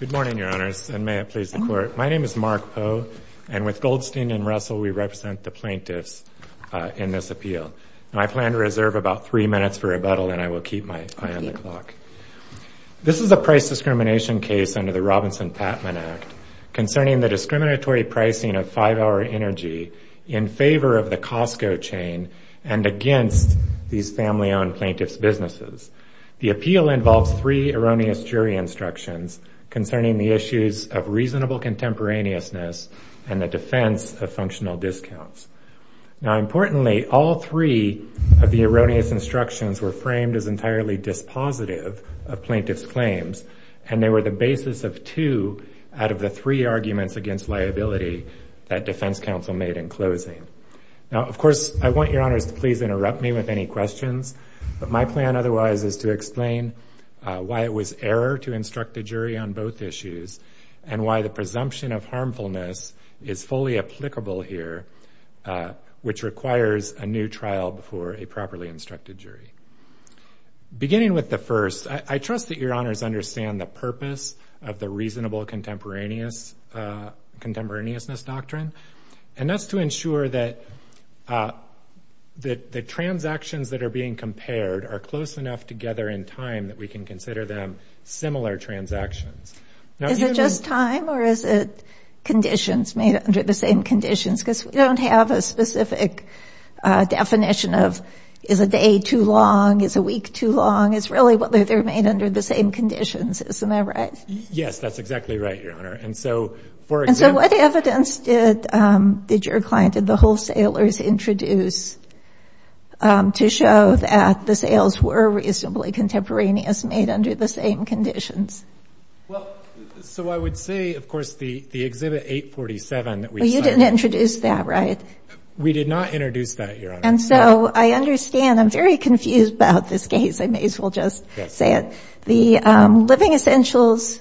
Good morning, Your Honors, and may it please the Court. My name is Mark Poe, and with Goldstein and Russell, we represent the plaintiffs in this appeal. I plan to reserve about three minutes for rebuttal, and I will keep my eye on the clock. This is a price discrimination case under the Robinson-Patman Act concerning the discriminatory pricing of five-hour energy in favor of the Costco chain and against these family-owned plaintiffs' businesses. The appeal involves three erroneous jury instructions concerning the issues of reasonable contemporaneousness and the defense of functional discounts. Importantly, all three of the erroneous instructions were framed as entirely dispositive of plaintiffs' claims, and they were the basis of two out of the three arguments against liability that defense counsel made in closing. Of course, I want Your Honors to please interrupt me with any questions, but my plan otherwise is to explain why it was error to instruct a jury on both issues and why the presumption of harmfulness is fully applicable here, which requires a new trial before a properly instructed jury. Beginning with the first, I trust that Your Honors understand the purpose of the reasonable contemporaneousness doctrine, and that's to ensure that the transactions that are being compared are close enough together in time that we can consider them similar transactions. Is it just time, or is it conditions made under the same conditions, because we don't have a specific definition of is a day too long, is a week too long? It's really whether they're made under the same conditions, isn't that right? Yes, that's exactly right, Your Honor. And so, for example And so what evidence did your client, did the wholesalers introduce to show that the sales were reasonably contemporaneous made under the same conditions? Well, so I would say, of course, the Exhibit 847 that we decided Well, you didn't introduce that, right? We did not introduce that, Your Honor. And so I understand. I'm very confused about this case. I may as well just say it. The Living Essentials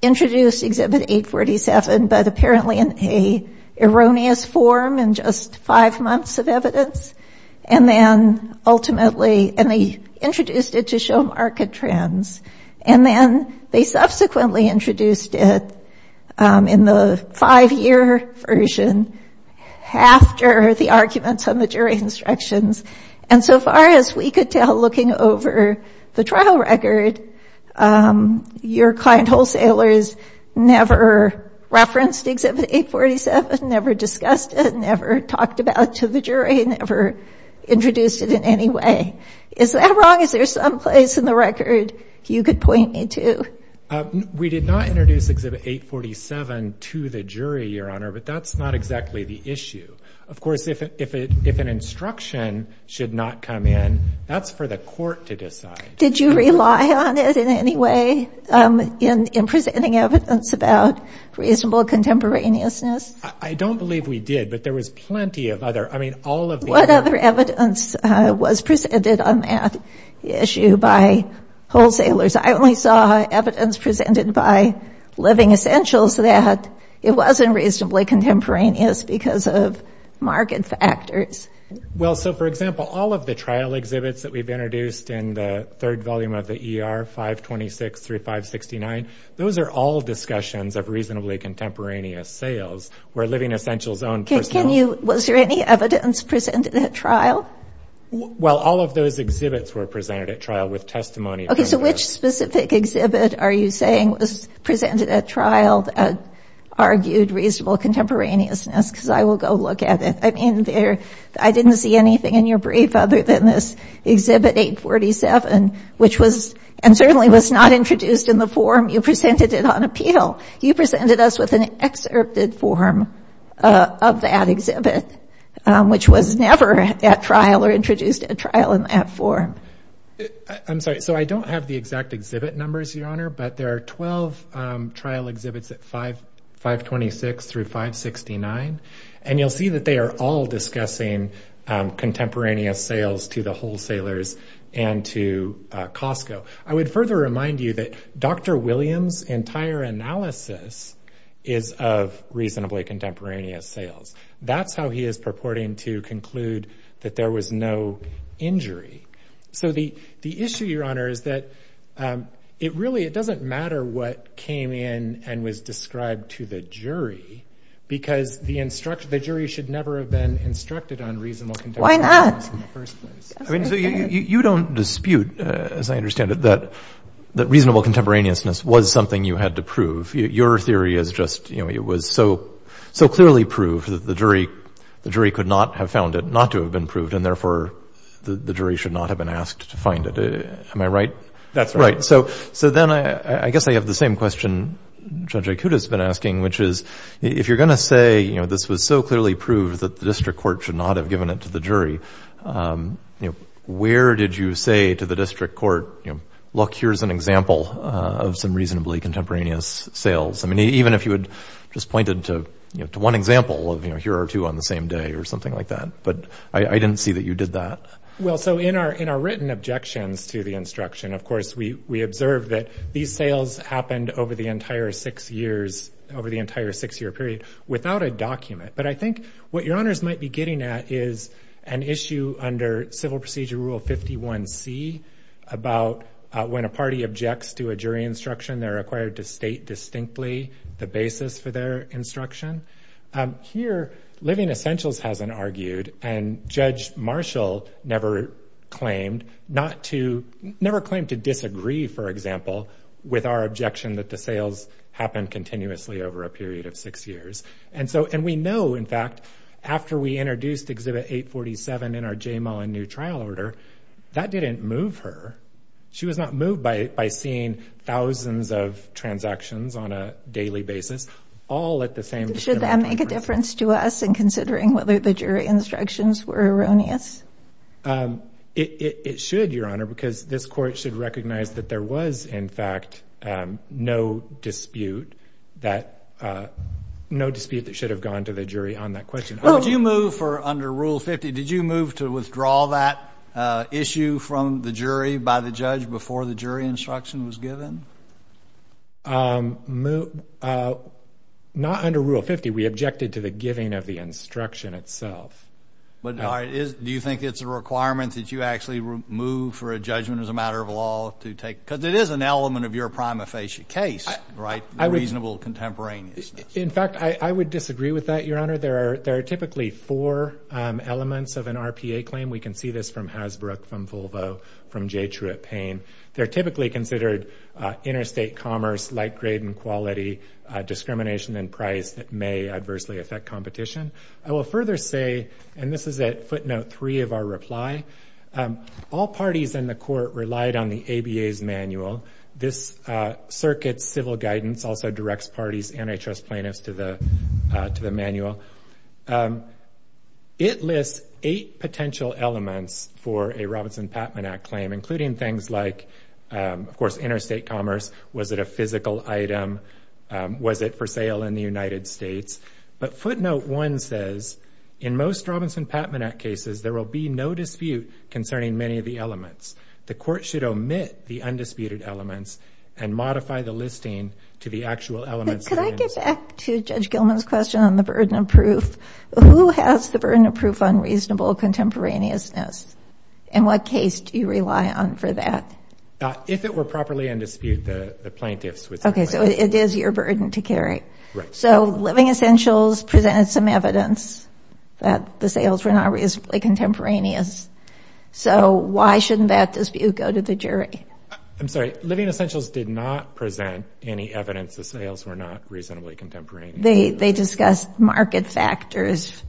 introduced Exhibit 847, but apparently in an erroneous form in just five months of evidence, and then ultimately, and they introduced it to show market trends. And then they subsequently introduced it in the five-year version after the arguments on the jury instructions. And so far as we could tell, looking over the trial record, your client wholesalers never referenced Exhibit 847, never discussed it, never talked about it to the jury, never introduced it in any way. Is that wrong? Is there someplace in the record you could point me to? We did not introduce Exhibit 847 to the jury, Your Honor, but that's not exactly the issue. Of course, if an instruction should not come in, that's for the court to decide. Did you rely on it in any way in presenting evidence about reasonable contemporaneousness? I don't believe we did, but there was plenty of other. I mean, all of the evidence was presented on that issue by wholesalers. I only saw evidence presented by Living Essentials that it wasn't reasonably contemporaneous because of market factors. Well, so, for example, all of the trial exhibits that we've introduced in the third volume of the ER, 526 through 569, those are all discussions of reasonably contemporaneous sales where Living Essentials' own personal... Was there any evidence presented at trial? Well, all of those exhibits were presented at trial with testimony. OK, so which specific exhibit are you saying was presented at trial that argued reasonable contemporaneousness? Because I will go look at it. I mean, I didn't see anything in your brief other than this Exhibit 847, which was, and certainly was not introduced in the form you presented it on appeal. You presented us with an excerpted form of that exhibit, which was never at trial or introduced at trial in that form. I'm sorry, so I don't have the exact exhibit numbers, Your Honor, but there are 12 trial exhibits at 526 through 569, and you'll see that they are all discussing contemporaneous sales to the wholesalers and to Costco. I would further remind you that Dr. Williams' entire analysis is of reasonably contemporaneous sales. That's how he is purporting to conclude that there was no injury. So the issue, Your Honor, is that it really, it doesn't matter what came in and was described to the jury, because the jury should never have been instructed on reasonable contemporaneousness in the first place. I mean, so you don't dispute, as I understand it, that reasonable contemporaneousness was something you had to prove. Your theory is just, you know, it was so clearly proved that the jury could not have found it, not to have been proved, and therefore the jury should not have been asked to find it. Am I right? That's right. So then I guess I have the same question Judge Ikuta has been asking, which is, if you're going to say, you know, this was so clearly proved that the district court should not have given it to the jury, you know, where did you say to the district court, you know, look, here's an example of some reasonably contemporaneous sales? I mean, even if you had just pointed to one example of, you know, here are two on the same day or something like that. But I didn't see that you did that. Well, so in our, in our written objections to the instruction, of course, we, we observed that these sales happened over the entire six years, over the entire six year period without a document. But I think what your honors might be getting at is an issue under Civil Procedure Rule 51C about when a party objects to a jury instruction, they're required to state distinctly the basis for their instruction. Here, Living Essentials hasn't argued and Judge Marshall never claimed not to, never claimed to disagree, for example, with our objection that the sales happened continuously over a period of six years. And so, and we know, in fact, after we introduced Exhibit 847 in our JMAW and new trial order, that didn't move her. She was not moved by, by seeing thousands of transactions on a daily basis, all at the same time. Should that make a difference to us in considering whether the jury instructions were erroneous? It should, your honor, because this court should recognize that there was, in fact, no dispute that, no dispute that should have gone to the jury on that question. Would you move for under Rule 50, did you move to withdraw that issue from the jury by the judge before the jury instruction was given? Um, not under Rule 50, we objected to the giving of the instruction itself. But, do you think it's a requirement that you actually move for a judgment as a matter of law to take, because it is an element of your prima facie case, right? Reasonable contemporaneous. In fact, I would disagree with that, your honor. There are, there are typically four elements of an RPA claim. We can see this from Hasbrook, from Volvo, from J. Truitt Payne. They're typically considered interstate commerce, light grade and quality, discrimination in price that may adversely affect competition. I will further say, and this is at footnote three of our reply, all parties in the court relied on the ABA's manual. This circuit's civil guidance also directs parties, antitrust plaintiffs to the, to the manual. It lists eight potential elements for a Robinson-Patman Act claim, including things like, of course, interstate commerce. Was it a physical item? Was it for sale in the United States? But footnote one says, in most Robinson-Patman Act cases, there will be no dispute concerning many of the elements. The court should omit the undisputed elements and modify the listing to the actual elements. Could I get back to Judge Gilman's question on the burden of proof? Who has the burden of proof on reasonable contemporaneousness? And what case do you rely on for that? If it were properly in dispute, the plaintiffs would say. Okay, so it is your burden to carry. So Living Essentials presented some evidence that the sales were not reasonably contemporaneous. So why shouldn't that dispute go to the jury? I'm sorry. Living Essentials did not present any evidence the sales were not reasonably contemporaneous. They, they discussed market factors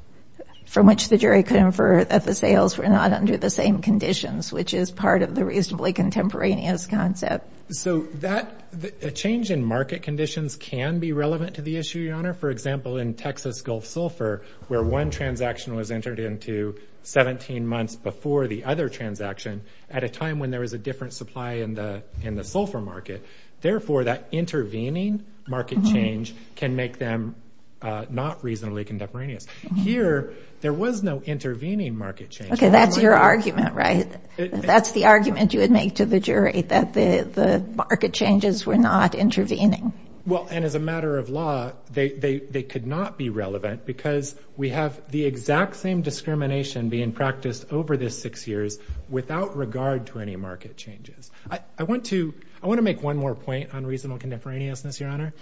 from which the jury could infer that the sales were not under the same conditions, which is part of the reasonably contemporaneous concept. So that the change in market conditions can be relevant to the issue, Your Honor. For example, in Texas Gulf Sulphur, where one transaction was entered into 17 months before the other transaction at a time when there was a different supply in the, in the Sulphur market. Therefore, that intervening market change can make them not reasonably contemporaneous. Here, there was no intervening market change. Okay. That's your argument, right? That's the argument you would make to the jury that the, the market changes were not intervening. Well, and as a matter of law, they, they, they could not be relevant because we have the exact same discrimination being practiced over the six years without regard to any market changes. I, I want to, I want to make one more point on reasonable contemporaneousness, Your Honor.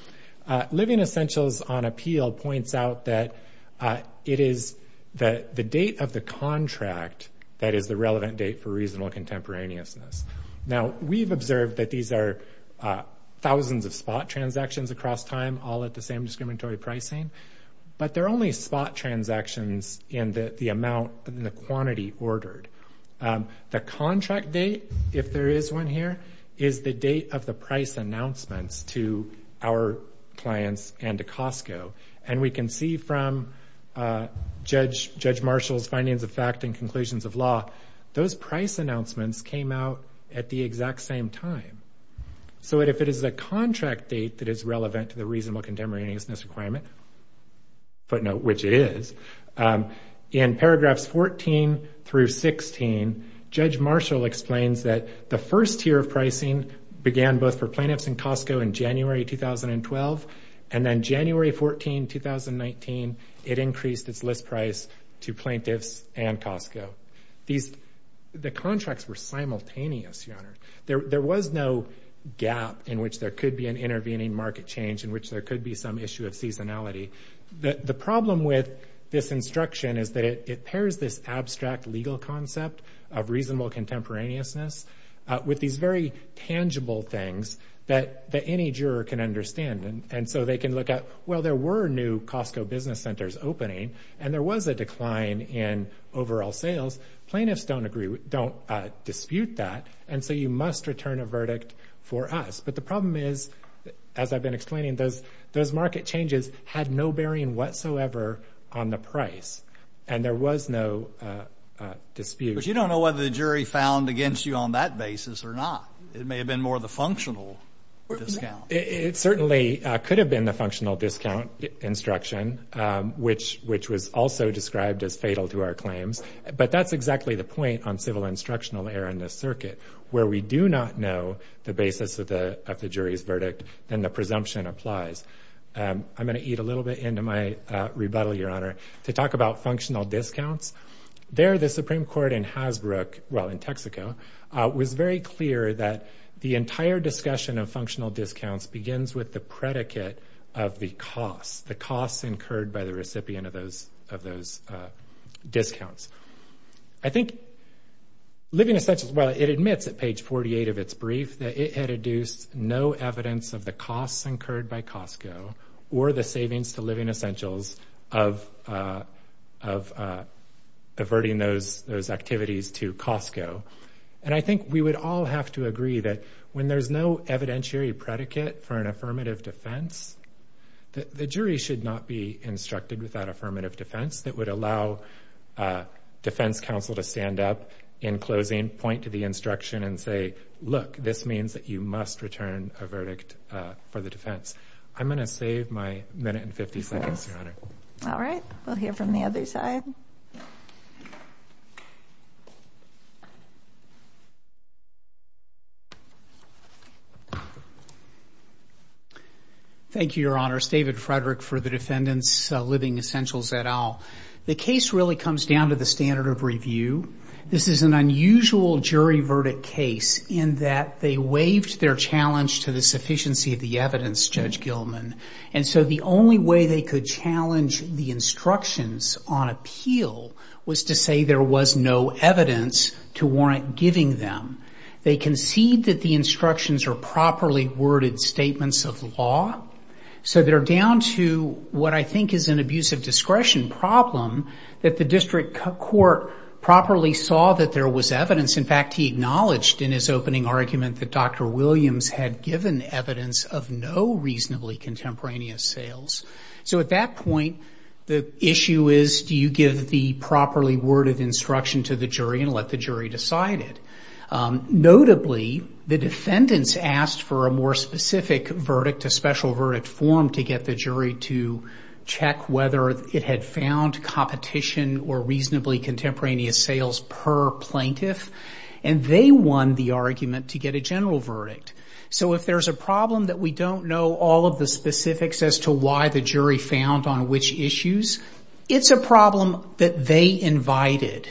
Living Essentials on appeal points out that it is the, the date of the contract that is the relevant date for reasonable contemporaneousness. Now we've observed that these are thousands of spot transactions across time, all at the same discriminatory pricing, but they're only spot transactions in the, the amount, in the quantity ordered. The contract date, if there is one here, is the date of the price announcements to our clients and to Costco. And we can see from Judge, Judge Marshall's findings of fact and conclusions of law, those price announcements came out at the exact same time. So if it is a contract date that is relevant to the reasonable contemporaneousness requirement, footnote, which it is, in paragraphs 14 through 16, Judge Marshall explains that the first tier of pricing began both for plaintiffs in Costco in January 2012, and then January 14, 2019, it increased its list price to plaintiffs and Costco. These, the contracts were simultaneous, Your Honor. There, there was no gap in which there could be an intervening market change in which there could be some issue of seasonality. The, the problem with this instruction is that it, it pairs this abstract legal any juror can understand, and so they can look at, well, there were new Costco business centers opening, and there was a decline in overall sales. Plaintiffs don't agree, don't dispute that, and so you must return a verdict for us. But the problem is, as I've been explaining, those, those market changes had no bearing whatsoever on the price, and there was no dispute. But you don't know whether the jury found against you on that basis or not. It may have been more of the functional discount. It certainly could have been the functional discount instruction, which, which was also described as fatal to our claims. But that's exactly the point on civil instructional error in this circuit, where we do not know the basis of the, of the jury's verdict, then the presumption applies. I'm going to eat a little bit into my rebuttal, Your Honor. To talk about functional discounts, there, the Supreme Court in Hasbrook, well, in the entire discussion of functional discounts begins with the predicate of the cost, the costs incurred by the recipient of those, of those discounts. I think living essentials, well, it admits at page 48 of its brief that it had adduced no evidence of the costs incurred by Costco or the savings to living essentials of, of averting those, those activities to Costco. And I think we would all have to agree that when there's no evidentiary predicate for an affirmative defense, that the jury should not be instructed with that affirmative defense that would allow a defense counsel to stand up in closing, point to the instruction and say, look, this means that you must return a verdict for the defense. I'm going to save my minute and 50 seconds, Your Honor. All right. We'll hear from the other side. Thank you, Your Honor. It's David Frederick for the defendants living essentials et al. The case really comes down to the standard of review. This is an unusual jury verdict case in that they waived their challenge to the sufficiency of the evidence, Judge Gilman. And so the only way they could challenge the instructions on appeal was to say there was no evidence to warrant giving them. They concede that the instructions are properly worded statements of law. So they're down to what I think is an abuse of discretion problem that the district court properly saw that there was evidence. In fact, he acknowledged in his opening argument that Dr. Williams had given evidence of no reasonably contemporaneous sales. So at that point, the issue is, do you give the properly worded instruction to the jury and let the jury decide it? Notably, the defendants asked for a more specific verdict, a special verdict form to get the jury to check whether it had found competition or reasonably contemporaneous sales per plaintiff. And they won the argument to get a general verdict. So if there's a problem that we don't know all of the specifics as to why the jury found on which issues, it's a problem that they invited.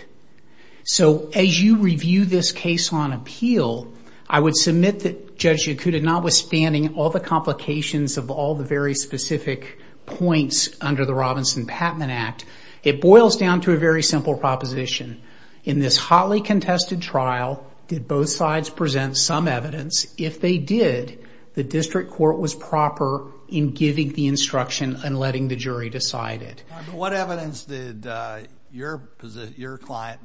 So as you review this case on appeal, I would submit that Judge Yakuta not withstanding all the complications of all the very specific points under the Robinson-Patman Act, it boils down to a very simple proposition. In this hotly contested trial, did both sides present some evidence? If they did, the district court was proper in giving the instruction and letting the jury decide it. What evidence did your client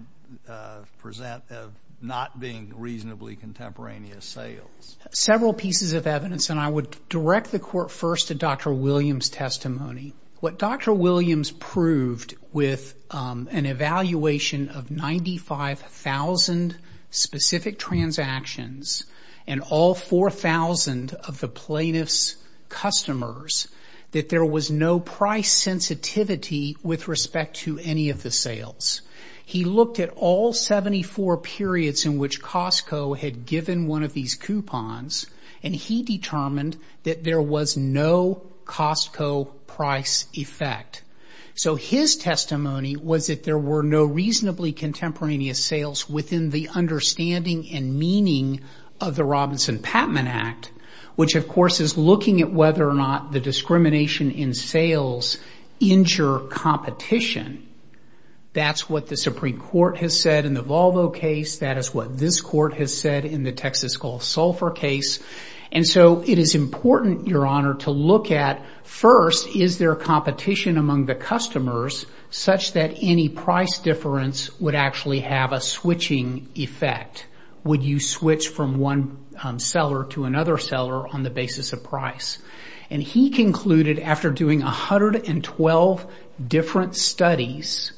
present of not being reasonably contemporaneous sales? Several pieces of evidence, and I would direct the court first to Dr. Williams' testimony. What Dr. Williams proved with an evaluation of 95,000 specific transactions and all 4,000 of the plaintiff's customers, that there was no price sensitivity with respect to any of the sales. He looked at all 74 periods in which Costco had given one of these coupons, and he determined that there was no Costco price effect. So his testimony was that there were no reasonably contemporaneous sales within the understanding and meaning of the Robinson-Patman Act, which of course is looking at whether or not the discrimination in sales injure competition. That's what the Supreme Court has said in the Volvo case. That is what this court has said in the Texas Gulf Sulphur case. And so it is important, Your Honor, to look at first, is there competition among the customers such that any price difference would actually have a switching effect? Would you switch from one seller to another seller on the basis of price? And he concluded after doing 112 different studies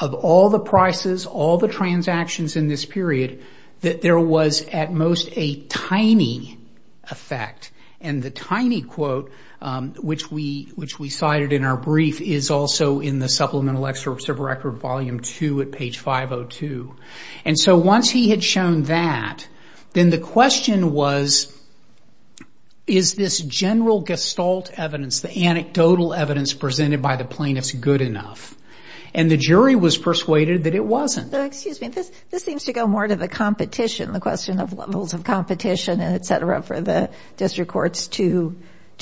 of all the prices, all the transactions in this period, that there was at most a tiny effect. And the tiny quote, which we cited in our brief, is also in the Supplemental Excerpts of Record Volume 2 at page 502. And so once he had shown that, then the question was, is this general gestalt evidence, the anecdotal evidence presented by the plaintiffs good enough? And the jury was persuaded that it wasn't. Excuse me, this seems to go more to the competition, the question of levels of competition, et cetera, for the district courts to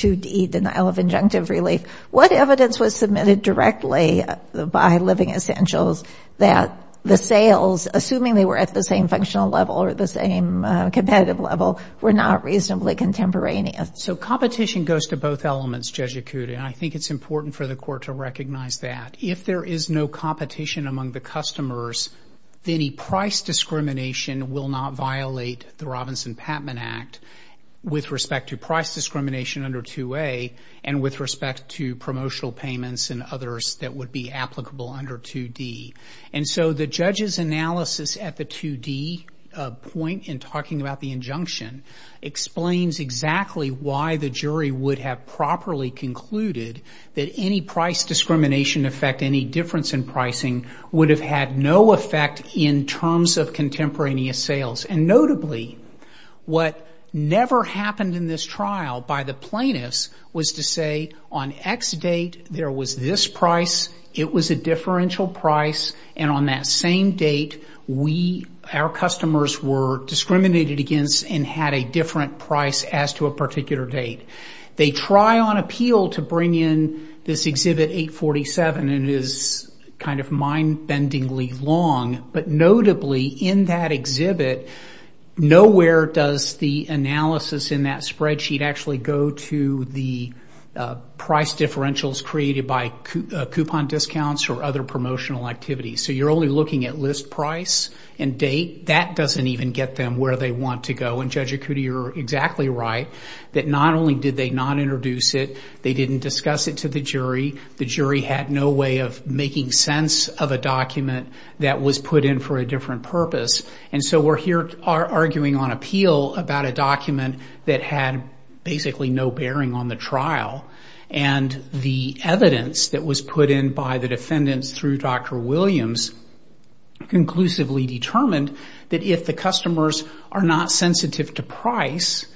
eat denial of injunctive relief. What evidence was submitted directly by Living Essentials that the sales, assuming they were at the same functional level or the same competitive level, were not reasonably contemporaneous? So competition goes to both elements, Judge Yakuta, and I think it's important for the court to recognize that. If there is no competition among the customers, then any price discrimination will not violate the Robinson-Patman Act with respect to price discrimination under 2A and with respect to promotional payments and others that would be applicable under 2D. And so the judge's analysis at the 2D point in talking about the injunction explains exactly why the jury would have properly concluded that any price discrimination effect, any difference in pricing, would have had no effect in terms of contemporaneous sales. And notably, what never happened in this trial by the plaintiffs was to say on X date, there was this price, it was a differential price, and on that same date, we, our customers were discriminated against and had a different price as to a particular date. They try on appeal to bring in this Exhibit 847, and it is kind of mind-bendingly long, but notably in that exhibit, nowhere does the analysis in that spreadsheet actually go to the price differentials created by coupon discounts or other promotional activities. So you're only looking at list price and date. That doesn't even get them where they want to go. And Judge Ikuti, you're exactly right, that not only did they not introduce it, they didn't discuss it to the jury. The jury had no way of making sense of a document that was put in for a different purpose. And so we're here arguing on appeal about a document that had basically no bearing on the trial. And the evidence that was put in by the defendants through Dr. Williams conclusively determined that if the customers are not sensitive to price,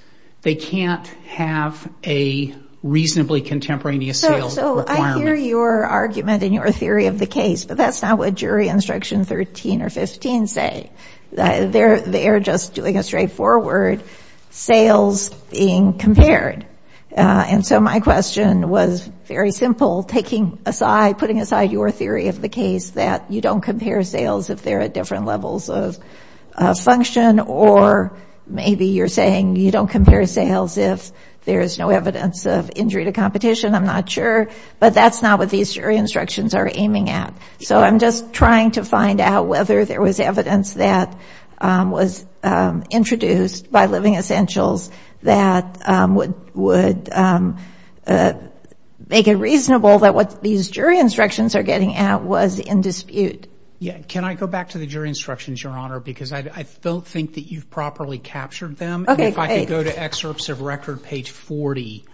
they can't have a reasonably contemporaneous sales requirement. So I hear your argument and your theory of the case, but that's not what jury instruction 13 or 15 say. They're just doing a straightforward sales being compared. And so my question was very simple, taking aside, putting aside your theory of the case that you don't compare sales if they're at different levels of function, or maybe you're saying you don't compare sales if there is no evidence of injury to competition. I'm not sure. But that's not what these jury instructions are aiming at. So I'm just trying to find out whether there was evidence that was introduced by Living Essentials that would make it reasonable that what these jury instructions are getting at was in dispute. Yeah. Can I go back to the jury instructions, Your Honor, because I don't think that you've properly captured them. OK, if I could go to excerpts of record, page 40,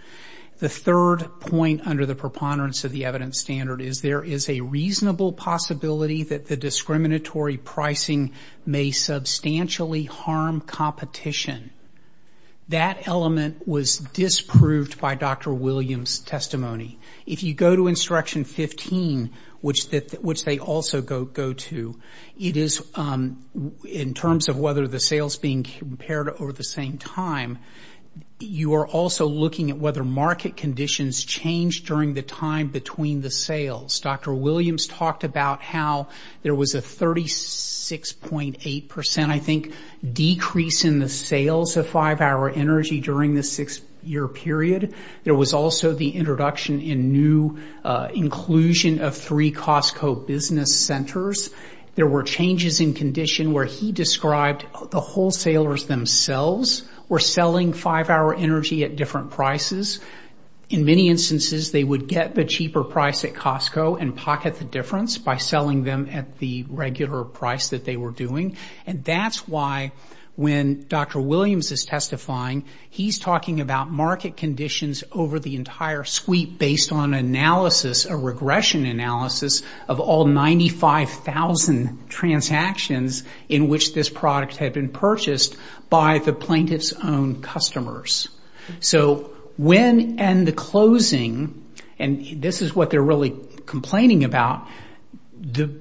the third point under the preponderance of the evidence standard is there is a reasonable possibility that the discriminatory pricing may substantially harm competition. That element was disproved by Dr. Williams' testimony. If you go to instruction 15, which they also go to, it is in terms of whether the sales being compared over the same time, you are also looking at whether market conditions change during the time between the sales. Dr. Williams talked about how there was a 36.8 percent, I think, decrease in the sales of five-hour energy during the six-year period. There was also the introduction in new inclusion of three Costco business centers. There were changes in condition where he described the wholesalers themselves were selling five-hour energy at different prices. In many instances, they would get the cheaper price at Costco and pocket the difference by selling them at the regular price that they were doing. That's why when Dr. Williams is testifying, he's talking about market conditions over the entire sweep based on analysis, a regression analysis of all 95,000 transactions in which this product had been purchased by the plaintiff's own customers. When in the closing, and this is what they're really complaining about, the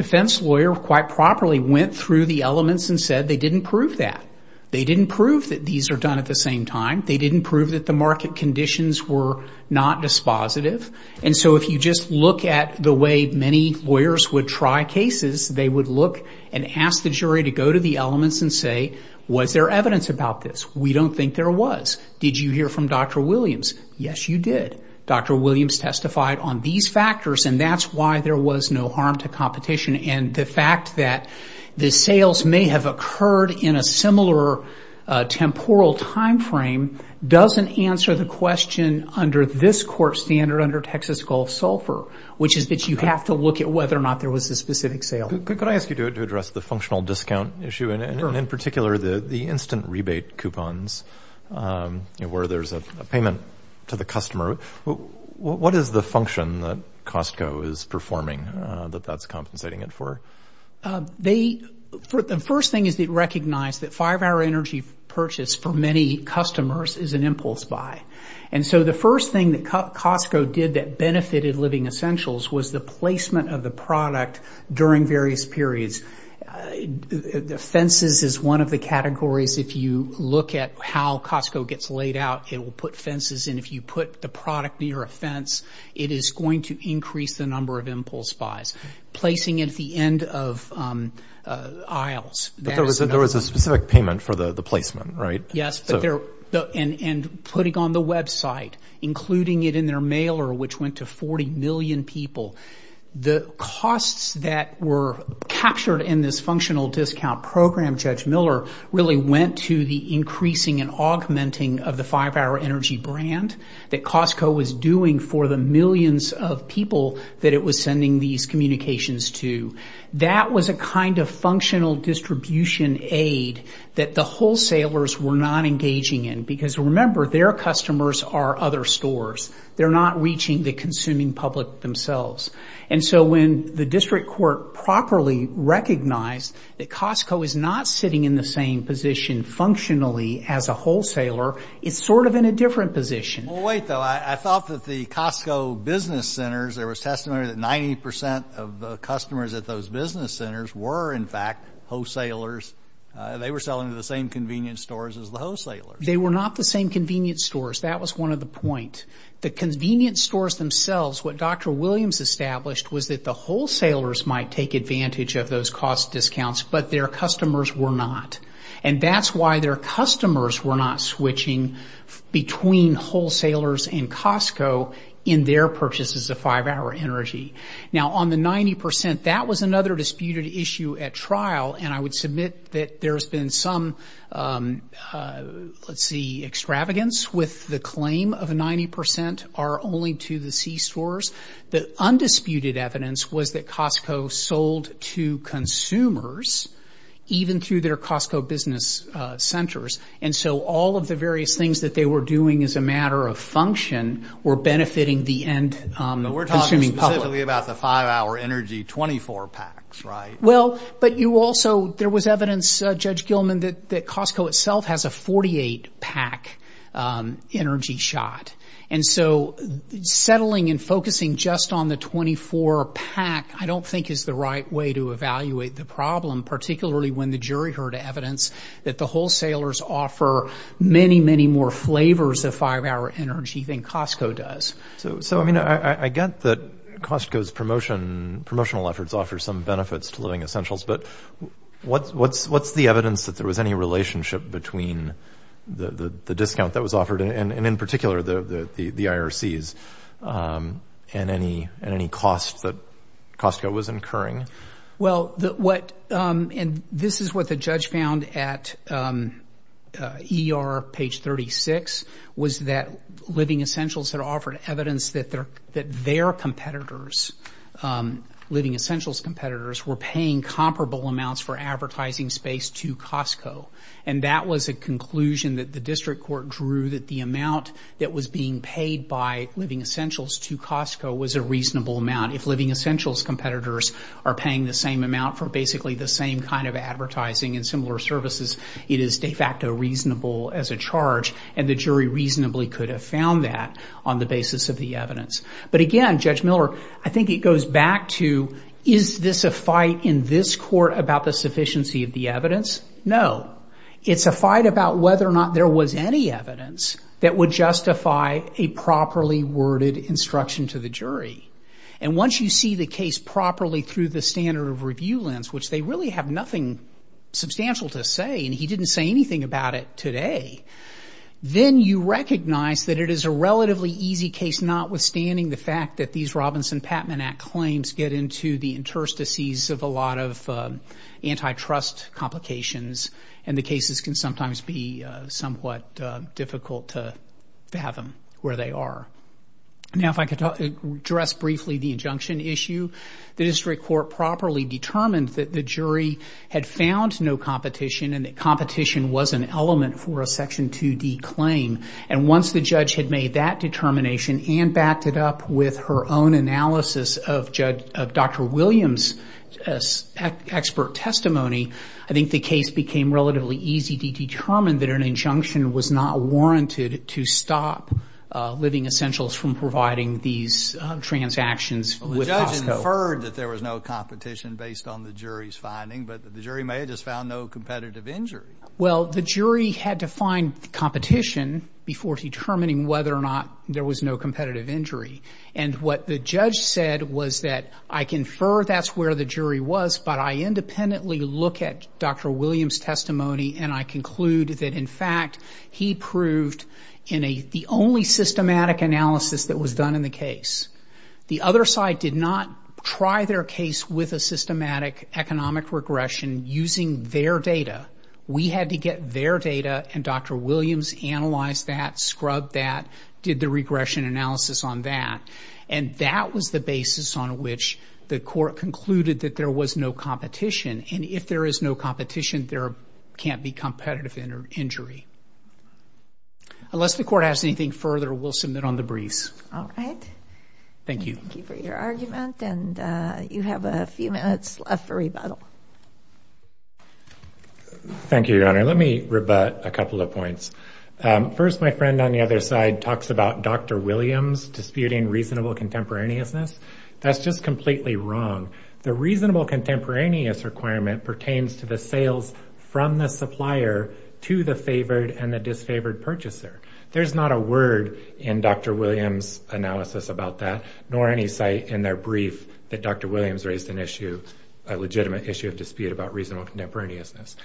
went through the elements and said they didn't prove that. They didn't prove that these are done at the same time. They didn't prove that the market conditions were not dispositive. If you just look at the way many lawyers would try cases, they would look and ask the jury to go to the elements and say, was there evidence about this? We don't think there was. Did you hear from Dr. Williams? Yes, you did. Dr. Williams testified on these factors and that's why there was no harm to the sales may have occurred in a similar temporal timeframe doesn't answer the question under this court standard under Texas Gulf Sulphur, which is that you have to look at whether or not there was a specific sale. Could I ask you to address the functional discount issue and in particular, the instant rebate coupons where there's a payment to the customer? What is the function that Costco is performing that that's compensating it for? They, the first thing is they recognize that five-hour energy purchase for many customers is an impulse buy. And so the first thing that Costco did that benefited Living Essentials was the placement of the product during various periods. Fences is one of the categories. If you look at how Costco gets laid out, it will put fences. And if you put the product near a fence, it is going to increase the number of impulse buys. Placing it at the end of aisles. But there was a specific payment for the placement, right? Yes. And putting on the website, including it in their mailer, which went to 40 million people. The costs that were captured in this functional discount program, Judge Miller, really went to the increasing and augmenting of the five-hour energy brand that they were communicating to. That was a kind of functional distribution aid that the wholesalers were not engaging in. Because remember, their customers are other stores. They're not reaching the consuming public themselves. And so when the district court properly recognized that Costco is not sitting in the same position functionally as a wholesaler, it's sort of in a different position. Well, wait though, I thought that the Costco business centers, there was estimated that 90% of the customers at those business centers were, in fact, wholesalers. They were selling to the same convenience stores as the wholesalers. They were not the same convenience stores. That was one of the points. The convenience stores themselves, what Dr. Williams established, was that the wholesalers might take advantage of those cost discounts, but their customers were not. And that's why their customers were not switching between wholesalers and Costco in their purchases of five-hour energy. Now, on the 90%, that was another disputed issue at trial. And I would submit that there has been some, let's see, extravagance with the claim of 90% are only to the C stores. The undisputed evidence was that Costco sold to consumers, even through their Costco business centers. And so all of the various things that they were doing as a matter of function were benefiting the end consuming public. But we're talking specifically about the five-hour energy, 24 packs, right? Well, but you also, there was evidence, Judge Gilman, that Costco itself has a 48-pack energy shot. And so settling and focusing just on the 24-pack, I don't think is the right way to evaluate the problem, particularly when the jury heard evidence that the Costco does. So, I mean, I get that Costco's promotional efforts offer some benefits to living essentials, but what's the evidence that there was any relationship between the discount that was offered, and in particular, the IRCs, and any cost that Costco was incurring? Well, what, and this is what the judge found at ER page 36, was that Living Essentials had offered evidence that their competitors, Living Essentials competitors, were paying comparable amounts for advertising space to Costco. And that was a conclusion that the district court drew that the amount that was being paid by Living Essentials to Costco was a reasonable amount. If Living Essentials competitors are paying the same amount for basically the same kind of advertising and similar services, it is de facto reasonable as a charge, and the jury reasonably could have found that on the basis of the evidence. But again, Judge Miller, I think it goes back to, is this a fight in this court about the sufficiency of the evidence? No. It's a fight about whether or not there was any evidence that would justify a properly worded instruction to the jury. And once you see the case properly through the standard of review lens, which they really have nothing substantial to say, and he didn't say anything about it today, then you recognize that it is a relatively easy case, notwithstanding the fact that these Robinson-Patman Act claims get into the interstices of a lot of antitrust complications, and the cases can sometimes be somewhat difficult to fathom where they are. Now, if I could address briefly the injunction issue. The district court properly determined that the jury had found no competition and that competition was an element for a Section 2D claim. And once the judge had made that determination and backed it up with her own analysis of Dr. Williams' expert testimony, I think the case became relatively easy to Well, the judge inferred that there was no competition based on the jury's finding, but the jury may have just found no competitive injury. Well, the jury had to find competition before determining whether or not there was no competitive injury. And what the judge said was that, I confer that's where the jury was, but I independently look at Dr. Williams' testimony and I conclude that, in fact, he proved in the only systematic analysis that was done in the case. The other side did not try their case with a systematic economic regression using their data. We had to get their data and Dr. Williams analyzed that, scrubbed that, did the regression analysis on that. And that was the basis on which the court concluded that there was no competition. And if there is no competition, there can't be competitive injury. Unless the court has anything further, we'll submit on the briefs. All right. Thank you. Thank you for your argument. And you have a few minutes left for rebuttal. Thank you, Your Honor. Let me rebut a couple of points. First, my friend on the other side talks about Dr. Williams disputing reasonable contemporaneousness. That's just completely wrong. The reasonable contemporaneous requirement pertains to the sales from the supplier to the favored and the disfavored purchaser. There's not a word in Dr. Williams' analysis about that, nor any site in their brief that Dr. Williams raised an issue, a legitimate issue of dispute about reasonable contemporaneousness.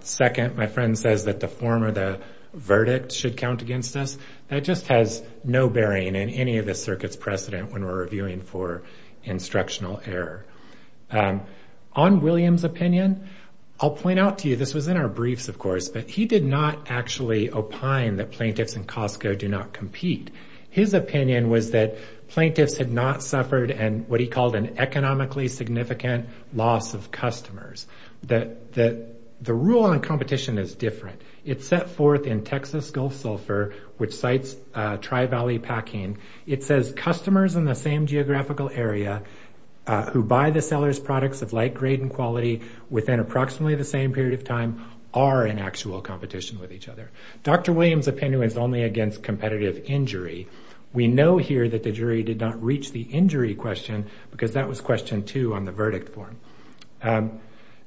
Second, my friend says that the form or the verdict should count against us. That just has no bearing in any of the circuit's precedent when we're reviewing for instructional error. On Williams' opinion, I'll point out to you, this was in our briefs of course, but he did not actually opine that plaintiffs in Costco do not compete. His opinion was that plaintiffs had not suffered and what he called an economically significant loss of customers. The rule on competition is different. It's set forth in Texas Gulf Sulphur, which cites tri-valley packing. It says customers in the same geographical area who buy the seller's products of like grade and quality within approximately the same period of time are in actual competition with each other. Dr. Williams' opinion is only against competitive injury. We know here that the jury did not reach the injury question because that was question two on the verdict form.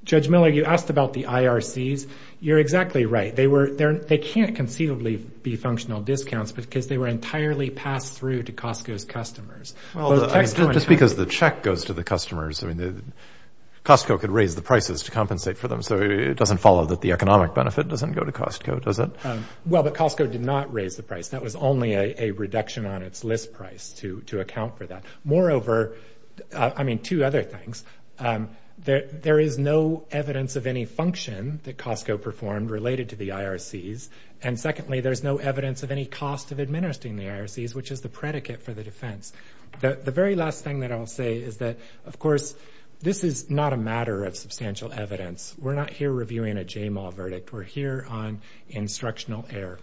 Judge Miller, you asked about the IRCs. You're exactly right. They can't conceivably be functional discounts because they were entirely passed through to Costco's customers. Well, just because the check goes to the customers, I mean, Costco could raise the prices to compensate for them. So it doesn't follow that the economic benefit doesn't go to Costco, does it? Well, but Costco did not raise the price. That was only a reduction on its list price to account for that. Moreover, I mean, two other things. There is no evidence of any function that Costco performed related to the IRCs. And secondly, there's no evidence of any cost of administering the IRCs, which is the predicate for the defense. The very last thing that I'll say is that, of course, this is not a matter of substantial evidence. We're not here reviewing a J-Mall verdict. We're here on instructional error.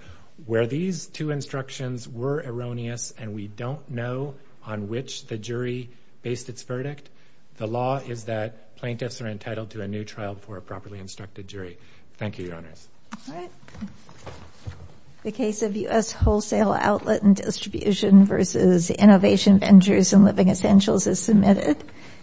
Where these two instructions were erroneous and we don't know on which the jury based its verdict, the law is that plaintiffs are entitled to a new trial for a properly instructed jury. Thank you, Your Honors. All right. The case of U.S. Wholesale Outlet and Distribution versus Innovation Ventures and Living Essentials is submitted.